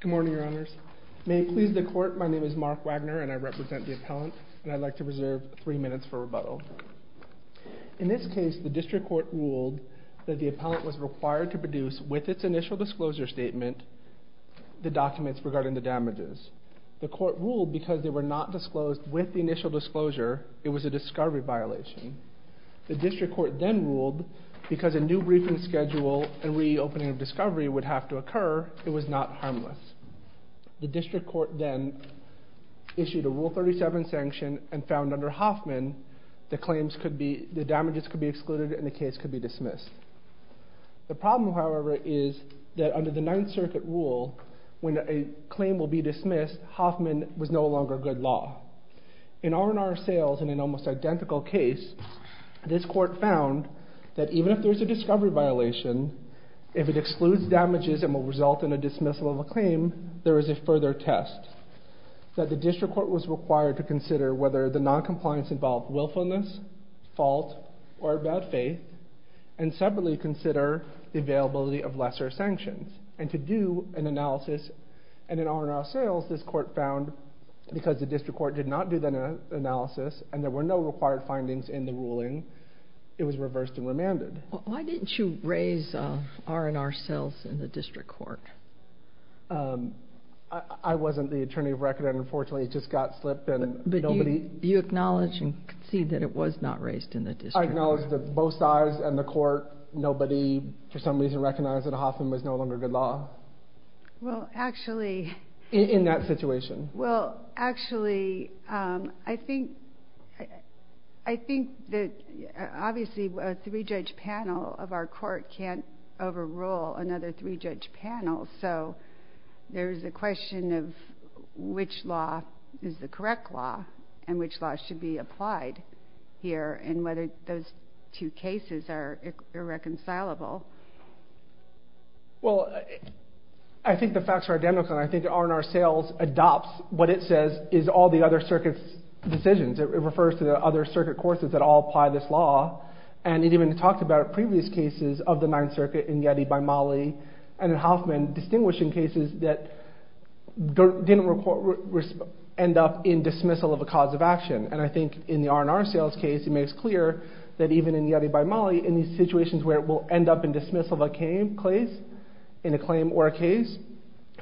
Good morning, your honors. May it please the court, my name is Mark Wagner and I represent the appellant, and I'd like to reserve three minutes for rebuttal. In this case, the district court ruled that the appellant was required to produce, with its initial disclosure statement, the documents regarding the damages. The court ruled because they were not disclosed with the initial disclosure, it was a discovery violation. The district court then ruled because a new briefing schedule and reopening of discovery would have to occur, it was not harmless. The district court then issued a rule 37 sanction and found under Hoffman, the claims could be, the damages could be excluded and the case could be dismissed. The problem, however, is that under the Ninth Circuit rule, when a claim will be dismissed, Hoffman was no longer good law. In R&R Sales, in an almost identical case, this court found that even if there's a discovery violation, if it excludes damages and will result in a dismissal of a claim, there is a further test. That the district court was required to consider whether the non-compliance involved willfulness, fault, or bad faith, and separately consider the availability of lesser sanctions. And to do an analysis, and in R&R Sales, this court found because the district court did not do that analysis and there were no required findings in the ruling, it was reversed and remanded. Why didn't you raise R&R Sales in the district court? Um, I wasn't the attorney of record and unfortunately it just got slipped and nobody... But you acknowledge and concede that it was not raised in the district court? I acknowledge that both sides and the court, nobody for some reason recognized that Hoffman was no longer good law. Well, actually... In that situation. Well, actually, um, I think, I think that obviously a three-judge panel of our court can't overrule another three-judge panel, so there's a question of which law is the correct law and which law should be applied here and whether those two cases are irreconcilable. Well, I think the facts are identical and I think R&R Sales adopts what it says is all the other circuits' decisions. It refers to the other circuit courses that all apply this law and it even talked about previous cases of the distinguishing cases that didn't end up in dismissal of a cause of action. And I think in the R&R Sales case, it makes clear that even in Yeti by Mollie, in these situations where it will end up in dismissal of a case, in a claim or a case,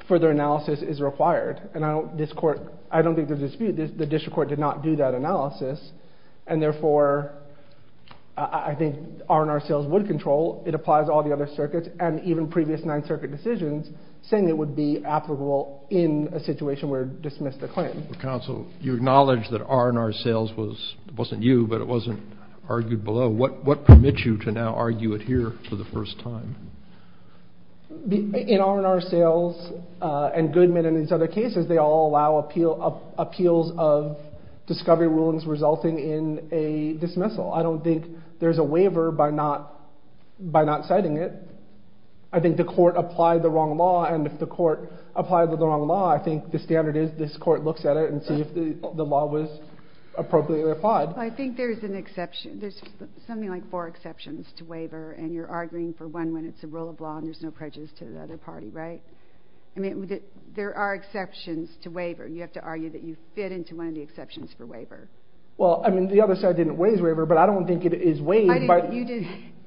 further analysis is required. And I don't, this court, I don't think there's a dispute. The district court did not do that analysis and therefore I think R&R Sales would control. It applies all the other circuits and even previous Ninth Circuit decisions saying it would be applicable in a situation where it dismissed a claim. Counsel, you acknowledge that R&R Sales was, it wasn't you, but it wasn't argued below. What permits you to now argue it here for the first time? In R&R Sales and Goodman and these other cases, they all allow appeals of discovery rulings resulting in a dismissal. I don't think there's a waiver by not, by not citing it. I think the court applied the wrong law and if the court applied the wrong law, I think the standard is this court looks at it and see if the law was appropriately applied. I think there's an exception, there's something like four exceptions to waiver and you're arguing for one when it's a rule of law and there's no prejudice to the other party, right? I mean, there are exceptions to waiver. You have to argue that you fit into one of the exceptions for waiver. Well, I mean, the other side didn't waive waiver, but I don't think it is waived.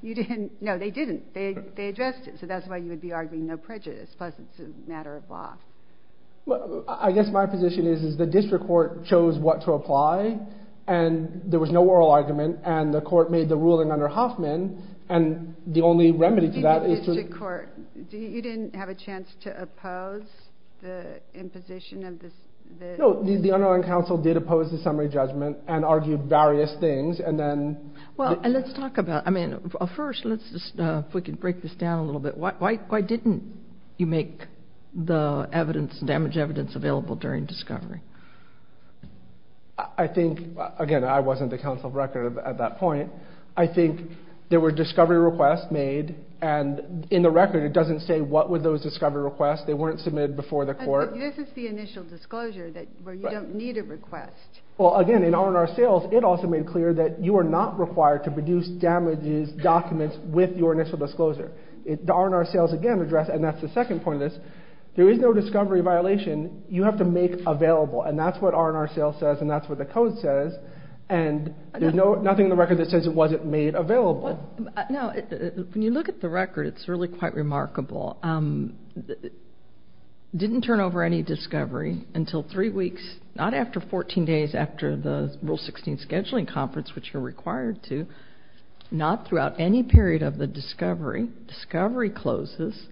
You didn't, no, they didn't. They addressed it, so that's why you would be arguing no prejudice, plus it's a matter of law. Well, I guess my position is the district court chose what to apply and there was no oral argument and the court made the ruling under Hoffman and the only remedy to that is to... You didn't have a chance to oppose the imposition of this? No, the underlying counsel did oppose the summary judgment and argued various things and then... Well, and let's talk about, I mean, first, let's just, if we can break this down a little bit, why didn't you make the evidence, damaged evidence available during discovery? I think, again, I wasn't the counsel of record at that point. I think there were discovery requests made and in the record it doesn't say what were those discovery requests. They weren't submitted before the court. This is the initial disclosure where you don't need a request. Well, again, in R&R sales, it also made clear that you are not required to produce damages documents with your initial disclosure. The R&R sales, again, address, and that's the second point of this, there is no discovery violation. You have to make available and that's what R&R sales says and that's what the code says and there's nothing in the record that says it wasn't made available. Now, when you look at the record, it's really quite remarkable. It didn't turn over any discovery until three weeks, not after 14 days after the Rule 16 scheduling conference, which you're required to, not throughout any period of the discovery. Discovery closes.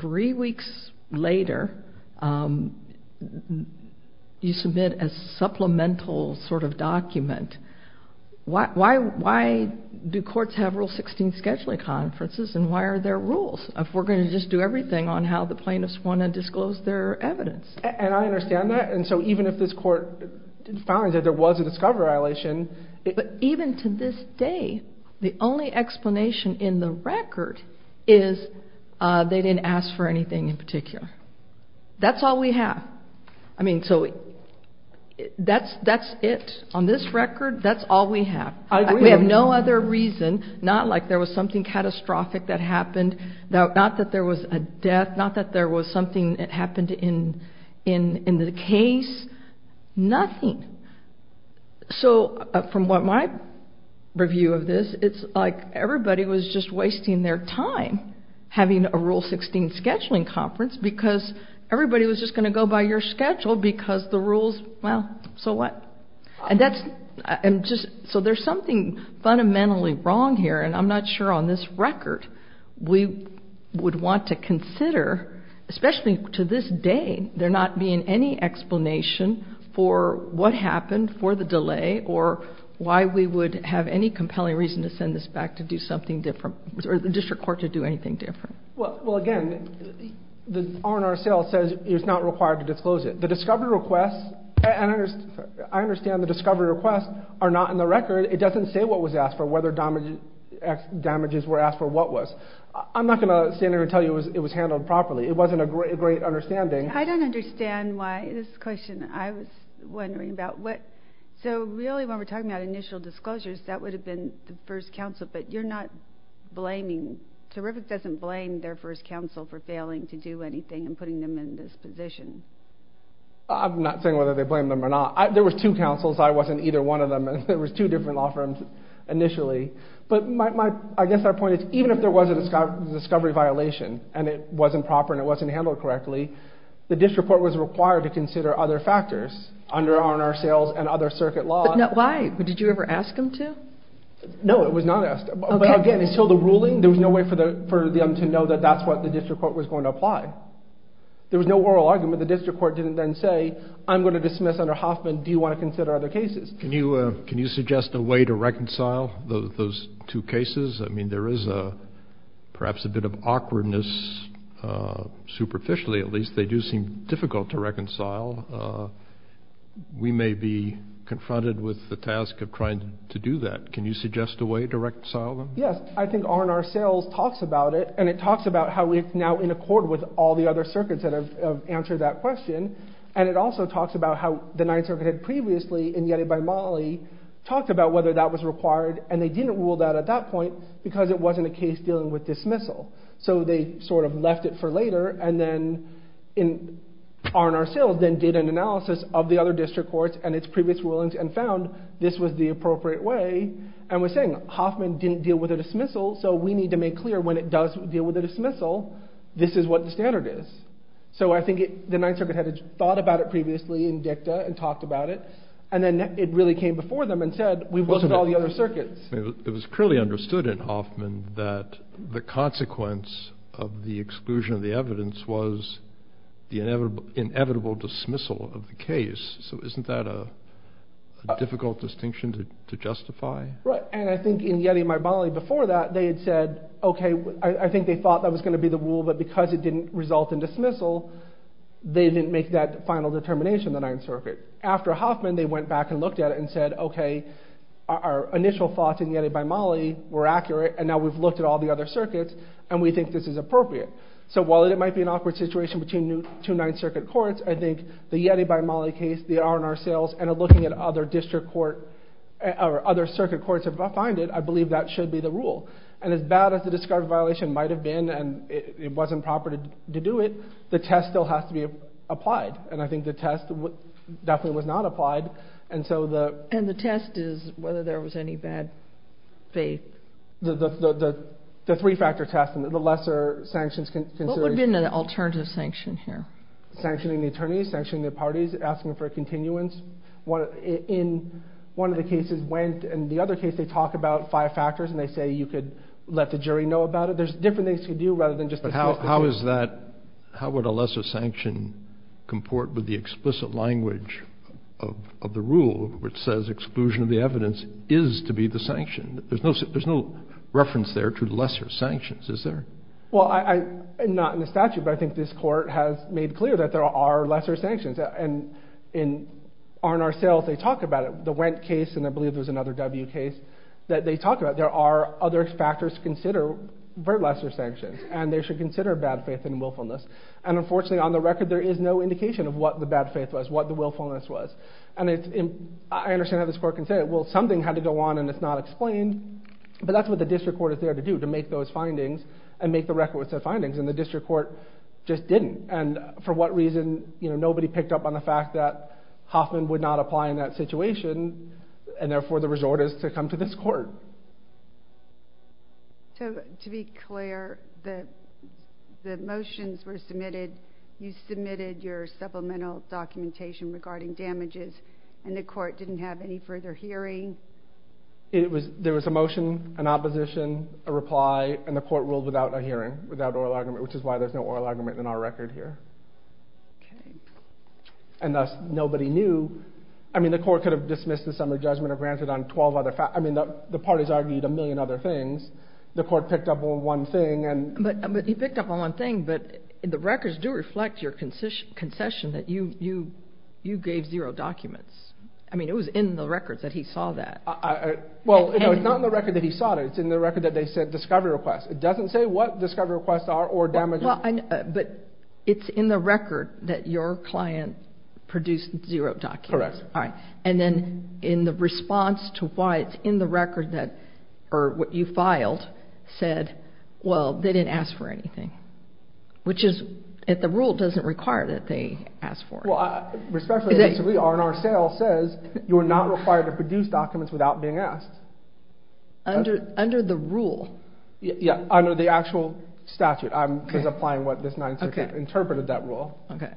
Three weeks later, you submit a supplemental sort of document. Why do courts have Rule 16 scheduling conferences and why are there rules if we're going to just do everything on how the plaintiffs want to disclose their evidence? And I understand that and so even if this court found that there was a discovery violation... But even to this day, the only explanation in the record is they didn't ask for anything in particular. That's all we have. I mean, so that's it on this record. That's all we have. We have no other reason, not like there was something catastrophic that happened, not that there was a death, not that there was something that happened in the case, nothing. So from what I review of this, it's like everybody was just wasting their time having a Rule 16 scheduling conference because everybody was just going to go by your schedule because the rules, well, so what? And that's... So there's something fundamentally wrong here and I'm not sure on this record we would want to consider, especially to this day, there not being any explanation for what we would have any compelling reason to send this back to do something different or the district court to do anything different. Well, again, the R&R cell says it's not required to disclose it. The discovery requests... I understand the discovery requests are not in the record. It doesn't say what was asked for, whether damages were asked for, what was. I'm not going to stand here and tell you it was handled properly. It wasn't a great understanding. I don't understand why this question... I was wondering about what... So really, when we're talking about initial disclosures, that would have been the first counsel, but you're not blaming... Terrific doesn't blame their first counsel for failing to do anything and putting them in this position. I'm not saying whether they blame them or not. There was two counsels. I wasn't either one of them and there was two different law firms initially, but I guess our point is even if there was a discovery violation and it wasn't proper and it wasn't handled correctly, the district court was required to consider other factors under R&R sales and other circuit laws. Why? Did you ever ask them to? No, it was not asked. But again, until the ruling, there was no way for them to know that that's what the district court was going to apply. There was no oral argument. The district court didn't then say, I'm going to dismiss under Hoffman. Do you want to consider other cases? Can you suggest a way to reconcile those two cases? I mean, there is perhaps a bit of reconcile. We may be confronted with the task of trying to do that. Can you suggest a way to reconcile them? Yes, I think R&R sales talks about it and it talks about how we're now in accord with all the other circuits that have answered that question. And it also talks about how the Ninth Circuit had previously, in Yeti by Molly, talked about whether that was required and they didn't rule that at that point because it wasn't a case dealing with dismissal. So they sort of then did an analysis of the other district courts and its previous rulings and found this was the appropriate way and was saying, Hoffman didn't deal with a dismissal so we need to make clear when it does deal with a dismissal, this is what the standard is. So I think the Ninth Circuit had thought about it previously in dicta and talked about it and then it really came before them and said, we've looked at all the other circuits. It was clearly understood in Hoffman that the consequence of the exclusion of the evidence was the inevitable dismissal of the case. So isn't that a difficult distinction to justify? Right, and I think in Yeti by Molly before that they had said, okay, I think they thought that was going to be the rule but because it didn't result in dismissal they didn't make that final determination in the Ninth Circuit. After Hoffman they went back and looked at it and said, okay, our initial thoughts in Yeti by Molly were accurate and now we've looked at all the other circuits and we think this is appropriate. So while it might be an awkward situation between two Ninth Circuit courts, I think the Yeti by Molly case, the R&R sales, and looking at other district court or other circuit courts have defined it, I believe that should be the rule. And as bad as the discarded violation might have been and it wasn't proper to do it, the test still has to be applied and I think the test definitely was not applied. And the test is whether there was any bad faith. The three-factor test and the lesser sanctions. What would have been an alternative sanction here? Sanctioning the attorneys, sanctioning the parties, asking for continuance. In one of the cases went and the other case they talk about five factors and they say you could let the jury know about it. There's different things to do rather than just... But how is that, how would a lesser sanction comport with the rule which says exclusion of the evidence is to be the sanction? There's no reference there to lesser sanctions, is there? Well I'm not in the statute but I think this court has made clear that there are lesser sanctions and in R&R sales they talk about it. The Wendt case and I believe there's another W case that they talk about. There are other factors to consider for lesser sanctions and they should consider bad faith and willfulness. And unfortunately on the record there is no indication of what the bad faith was, what the willfulness was. And I understand how this court can say well something had to go on and it's not explained but that's what the district court is there to do, to make those findings and make the records of findings and the district court just didn't. And for what reason, you know, nobody picked up on the fact that Hoffman would not apply in that situation and therefore the resort is to come to this court. So to be clear the motions were submitted, you submitted your supplemental documentation regarding damages and the court didn't have any further hearing? There was a motion, an opposition, a reply, and the court ruled without a hearing, without oral argument, which is why there's no oral argument in our record here. And thus nobody knew, I mean the court could have dismissed the summary judgment or granted on 12 other facts, I mean the parties argued a million other things, the court picked up on one thing. But he picked up on one thing, but the records do reflect your concession that you gave zero documents. I mean it was in the records that he saw that. Well it's not in the record that he saw that, it's in the record that they said discovery request. It doesn't say what discovery requests are or damages. But it's in the record that your client produced zero documents. And then in the response to why it's in the record that, or what you filed, said, well they didn't ask for anything. Which is, the rule doesn't require that they ask for it. Well, respectfully, our sale says you're not required to produce documents without being asked. Under the rule. Yeah, under the actual statute, I'm just applying what this attorney said.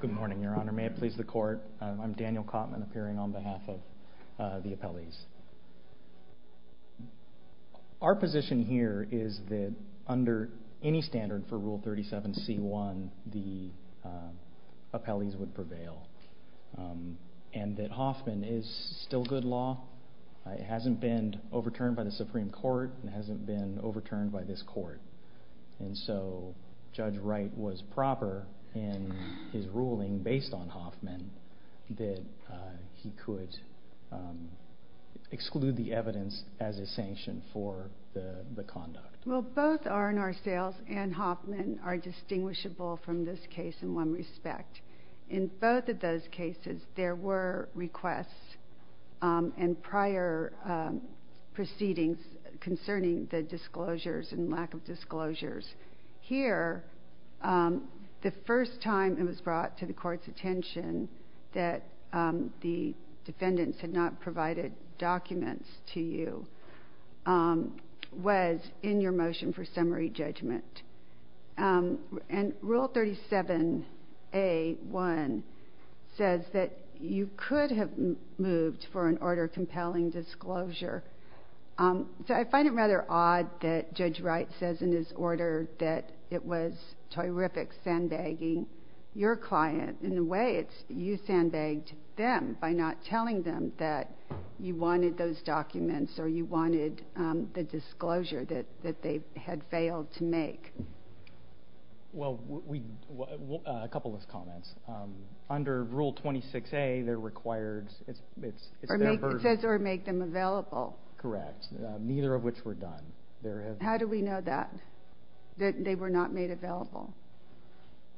Good morning, your honor. May it please the court. I'm Daniel Kottman, appearing on behalf of the appellees. Our position here is that under any standard for rule 37c1, the is still good law. It hasn't been overturned by the Supreme Court, it hasn't been overturned by this court. And so Judge Wright was proper in his ruling based on Hoffman that he could exclude the evidence as a sanction for the conduct. Well both R&R sales and Hoffman are in compliance with the statute. And I'm just wondering if you could talk a little bit about the disclosures and lack of disclosures. Here, the first time it was brought to the court's attention that the defendants had not provided documents to you was in your motion for summary moved for an order compelling disclosure. So I find it rather odd that Judge Wright says in his order that it was terrific sandbagging your client. In a way, it's you sandbagged them by not telling them that you wanted those documents or you wanted the disclosure that they had failed to make. Well, a couple of comments. Under Rule 26a, it says or make them available. Correct. Neither of which were done. How do we know that? That they were not made available?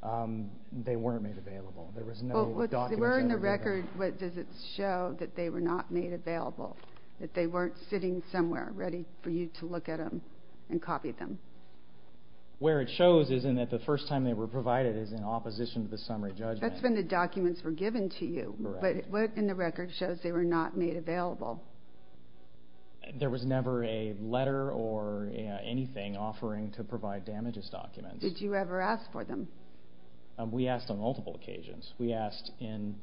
They weren't made available. They were in the record, but does it show that they were not made available? That they weren't sitting somewhere ready for you to look at them and copy them? Where it shows is in that the first time they were provided is in opposition to the summary judgment. That's when the documents were given to you, but what in the record shows they were not made available? There was never a letter or anything offering to provide damages documents. Did you ever ask for them? We asked on multiple occasions. We asked in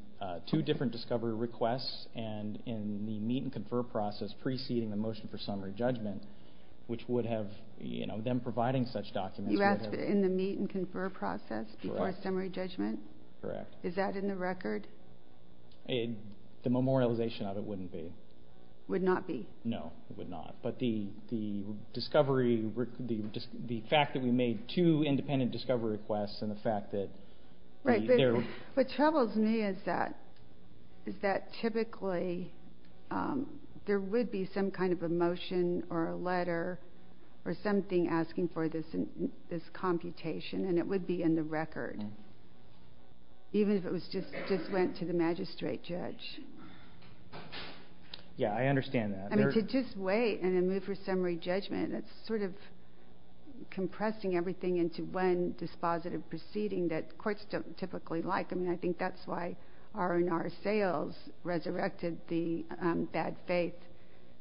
two different discovery requests and in the meet and confer process preceding the motion for summary judgment, which would have them providing such documents. You asked in the meet and confer process before summary judgment? Correct. Is that in the record? The memorialization of it wouldn't be. Would not be? No, it would not. The fact that we made two independent discovery requests and the letter or something asking for this computation, and it would be in the record, even if it just went to the magistrate judge. Yeah, I understand that. I mean, to just wait and then move for summary judgment, it's sort of compressing everything into one dispositive proceeding that courts don't typically like. I mean, I think that's why R&R sales resurrected the bad faith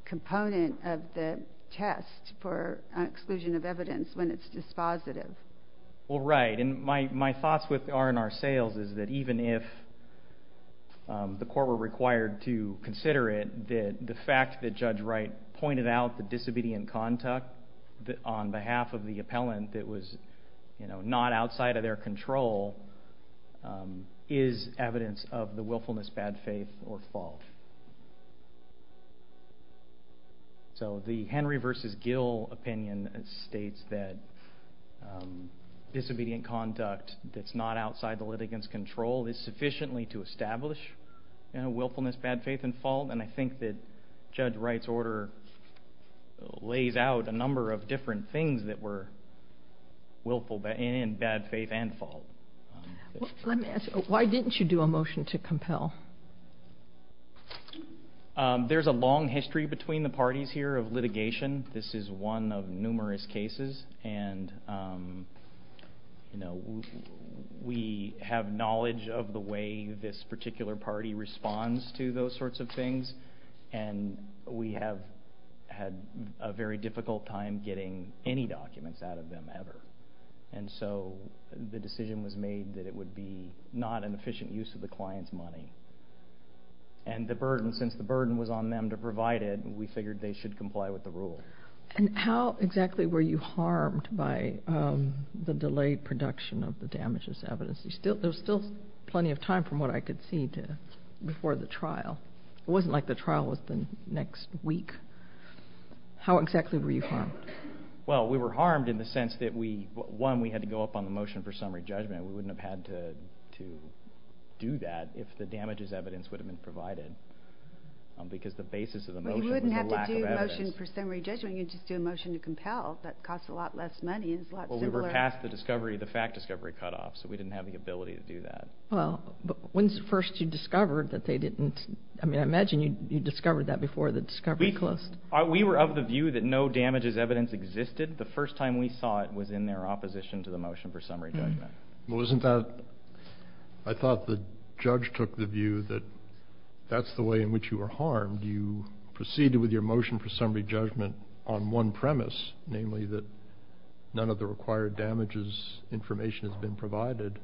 component of the test for exclusion of evidence when it's dispositive. Well, right. And my thoughts with R&R sales is that even if the court were required to consider it, the fact that Judge Wright pointed out the disobedient conduct on behalf of the appellant that was not outside of their control is evidence of the willfulness, bad faith, or fault. So the Henry v. Gill opinion states that disobedient conduct that's not outside the litigants' control is sufficiently to establish willfulness, bad faith, and fault. And I think that Judge Wright's order lays out a number of different things that were willful in bad faith and fault. Let me ask you, why didn't you do a motion to compel? Well, there's a long history between the parties here of litigation. This is one of numerous cases and, you know, we have knowledge of the way this particular party responds to those sorts of things. And we have had a very difficult time getting any documents out of them ever. And so the decision was made that it would be not an efficient use of the client's money. And the burden, since the burden was on them to provide it, we figured they should comply with the rule. And how exactly were you harmed by the delayed production of the damages evidence? There was still plenty of time from what I could see to before the trial. It wasn't like the trial was the next week. How exactly were you harmed? Well, we were harmed in the sense that we, one, we had to go up on the motion for summary judgment. We wouldn't have had to do that if the damages evidence would have been provided. Because the basis of the motion was a lack of evidence. You wouldn't have to do a motion for summary judgment. You'd just do a motion to compel. That costs a lot less money. It's a lot simpler. Well, we were past the discovery, the fact discovery cutoff. So we didn't have the ability to do that. Well, but when's the first you discovered that they didn't, I mean, I imagine you discovered that before the discovery closed. We were of the view that no damages evidence existed. The first time we saw it was in their opposition to the motion for summary judgment. Well, wasn't that, I thought the judge took the view that that's the way in which you were harmed. You proceeded with your motion for summary judgment on one premise, namely that none of the required damages information has been provided.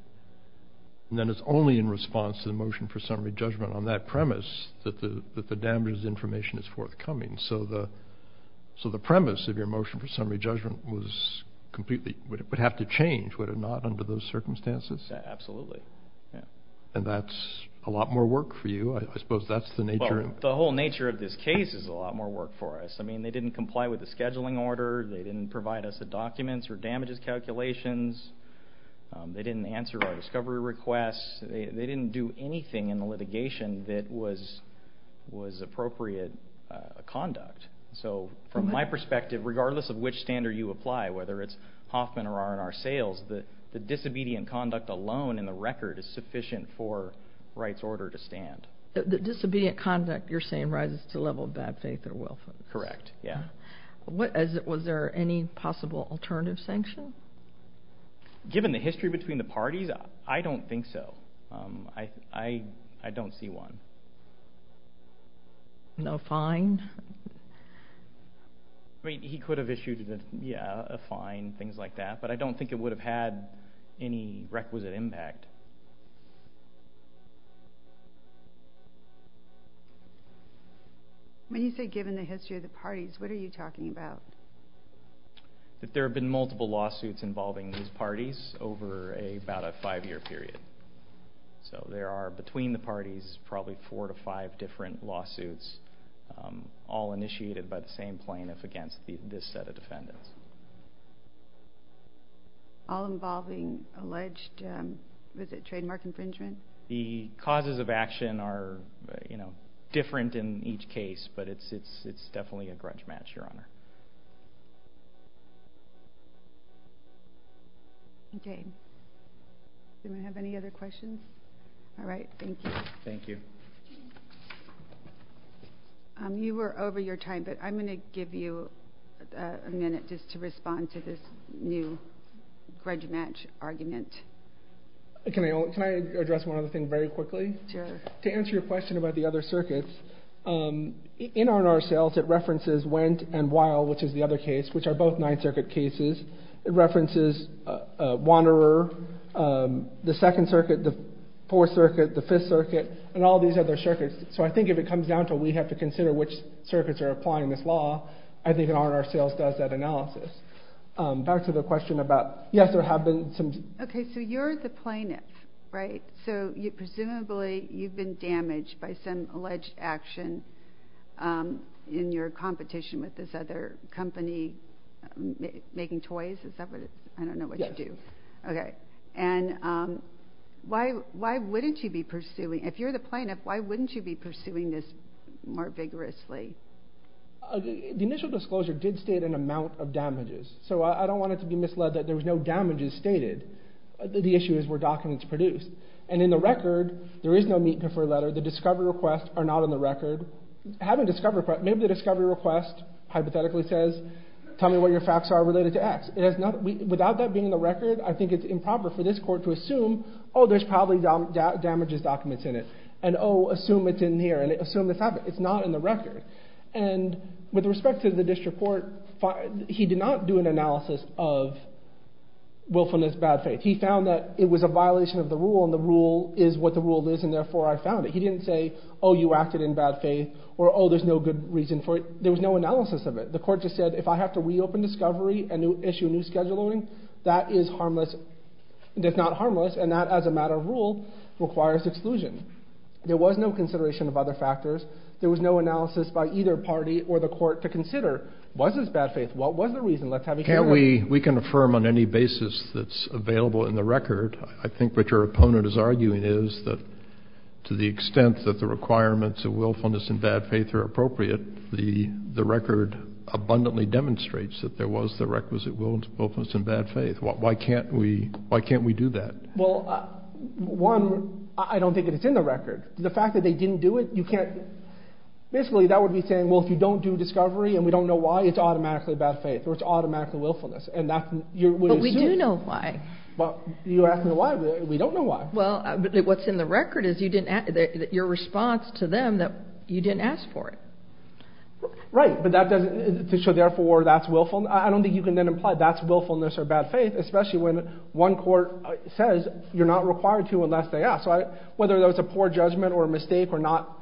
And then it's only in response to the motion for summary judgment on that premise that the so the premise of your motion for summary judgment was completely, would have to change, would it not under those circumstances? Absolutely. Yeah. And that's a lot more work for you. I suppose that's the nature. The whole nature of this case is a lot more work for us. I mean, they didn't comply with the scheduling order. They didn't provide us a documents or damages calculations. They didn't answer our discovery requests. They didn't do anything in the litigation that was appropriate conduct. So from my perspective, regardless of which standard you apply, whether it's Hoffman or are in our sales, the disobedient conduct alone in the record is sufficient for rights order to stand. The disobedient conduct you're saying rises to level of bad faith or welfare. Correct. Yeah. Was there any possible alternative sanction? Given the history between the parties, I don't think so. I don't see one. No fine? I mean, he could have issued a fine, things like that, but I don't think it would have had any requisite impact. When you say given the history of the parties, what are you talking about? That there have been multiple lawsuits involving these parties over about a five-year period. So there are, between the parties, probably four to five different lawsuits, all initiated by the same plaintiff against this set of defendants. All involving alleged, was it trademark infringement? The causes of action are different in each case, but it's definitely a grudge match, Your Honor. Okay. Do we have any other questions? All right. Thank you. Thank you. You were over your time, but I'm going to give you a minute just to respond to this new grudge match argument. Can I address one other thing very quickly? Sure. To answer your question about the other circuits, in R&R Sales it references Wendt and Weil, which is the other case, which are both Ninth Circuit cases. It references Wanderer, the Second Circuit, the Fourth Circuit, the Fifth Circuit, and all these other circuits. So I think if it comes down to we have to consider which circuits are applying this law, I think R&R Sales does that analysis. Back to the question about, yes, there have been some... Okay. So you're the plaintiff, right? So presumably you've been damaged by some alleged action in your competition with this other company making toys? Is that what it... I don't know what you do. Okay. And why wouldn't you be pursuing... If you're the plaintiff, why wouldn't you be pursuing this more vigorously? The initial disclosure did state an amount of damages. So I don't want it to be misled that there was no damages stated. The issue is where documents produced. And in the record, there is no meet-and-defer letter. The discovery requests are not on the record. Having discovery requests... Maybe the discovery request hypothetically says, tell me what your facts are related to X. It has not... Without that being in the record, I think it's improper for this court to assume, oh, there's probably damages documents in it. And, oh, assume it's in here. And assume this happened. It's not in the record. And with respect to the district court, he did not do an analysis of willfulness, bad faith. He found that it was a violation of the rule, and the rule is what the rule is, and therefore I found it. He didn't say, oh, you acted in bad faith, or, oh, there's no good reason for it. There was no analysis of it. The court just said, if I have to reopen discovery and issue new scheduling, that is harmless. That's not harmless. And that, as a matter of rule, requires exclusion. There was no consideration of other factors. There was no analysis by either party or the court to consider, was this bad faith? What was the reason? Let's have you... Can't we, we can affirm on any basis that's available in the record. I think what your opponent is arguing is that to the extent that the requirements of willfulness and bad faith are appropriate, the record abundantly demonstrates that there was the requisite willfulness and bad faith. Why can't we, why can't we do that? Well, one, I don't think it's in the record. The fact that they didn't do it, you can't... Basically, that would be saying, well, if you don't do discovery and we don't know why, it's automatically bad faith, or it's automatically willfulness, and that's... But we do know why. Well, you're asking why, we don't know why. Well, but what's in the record is you didn't, your response to them that you didn't ask for it. Right, but that doesn't, so therefore that's willful. I don't think you can then imply that's willfulness or bad faith, especially when one court says you're not required to unless they ask, right? Whether that was a poor judgment or a mistake or not,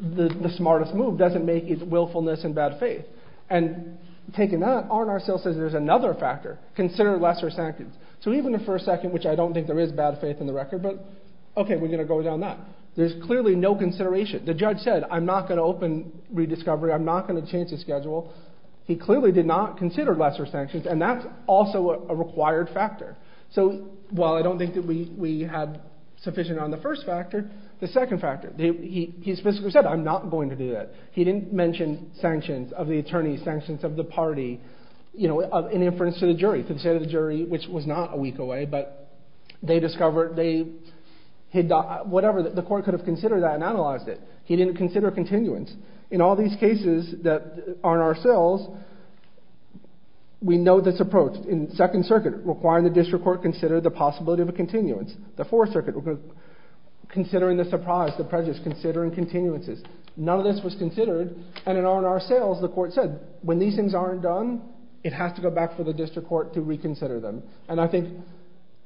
the smartest move doesn't make it willfulness and bad faith. And taking that, R&R still says there's another factor, consider lesser sanctions. So even if for a second, which I don't think there is bad faith in the record, but okay, we're going to go down that. There's clearly no consideration. The judge said, I'm not going to open rediscovery, I'm not going to change the schedule. He clearly did not consider lesser sanctions, and that's also a required factor. So while I don't think that we have sufficient on the first factor, the second factor, he specifically said, I'm not going to do that. He didn't mention sanctions of the attorneys, sanctions of the party, you know, in inference to the jury, to the state of the jury, which was not a week away, but they discovered, they, whatever, the court could have considered that and analyzed it. He didn't consider continuance. In all these cases that R&R sells, we know this approach. In second circuit, requiring the district court consider the possibility of a continuance. The fourth circuit, considering the surprise, the prejudice, considering continuances. None of this was considered, and in R&R sales, the court said, when these things aren't done, it has to go back for the district court to reconsider them. And I think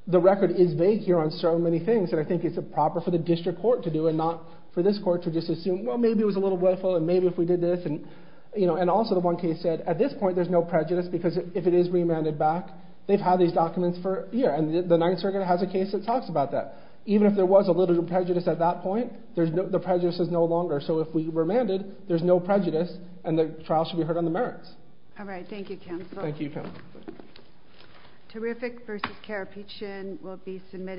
the record is vague here on so many things, and I think it's proper for the district court to do and not this court to just assume, well, maybe it was a little woeful, and maybe if we did this, and also the one case said, at this point, there's no prejudice because if it is remanded back, they've had these documents for a year, and the ninth circuit has a case that talks about that. Even if there was a little prejudice at that point, there's no, the prejudice is no longer. So if we remanded, there's no prejudice, and the trial should be heard on the merits. All right. Thank you, counsel. Thank you, counsel. Terrific versus Carapiccian will be submitted.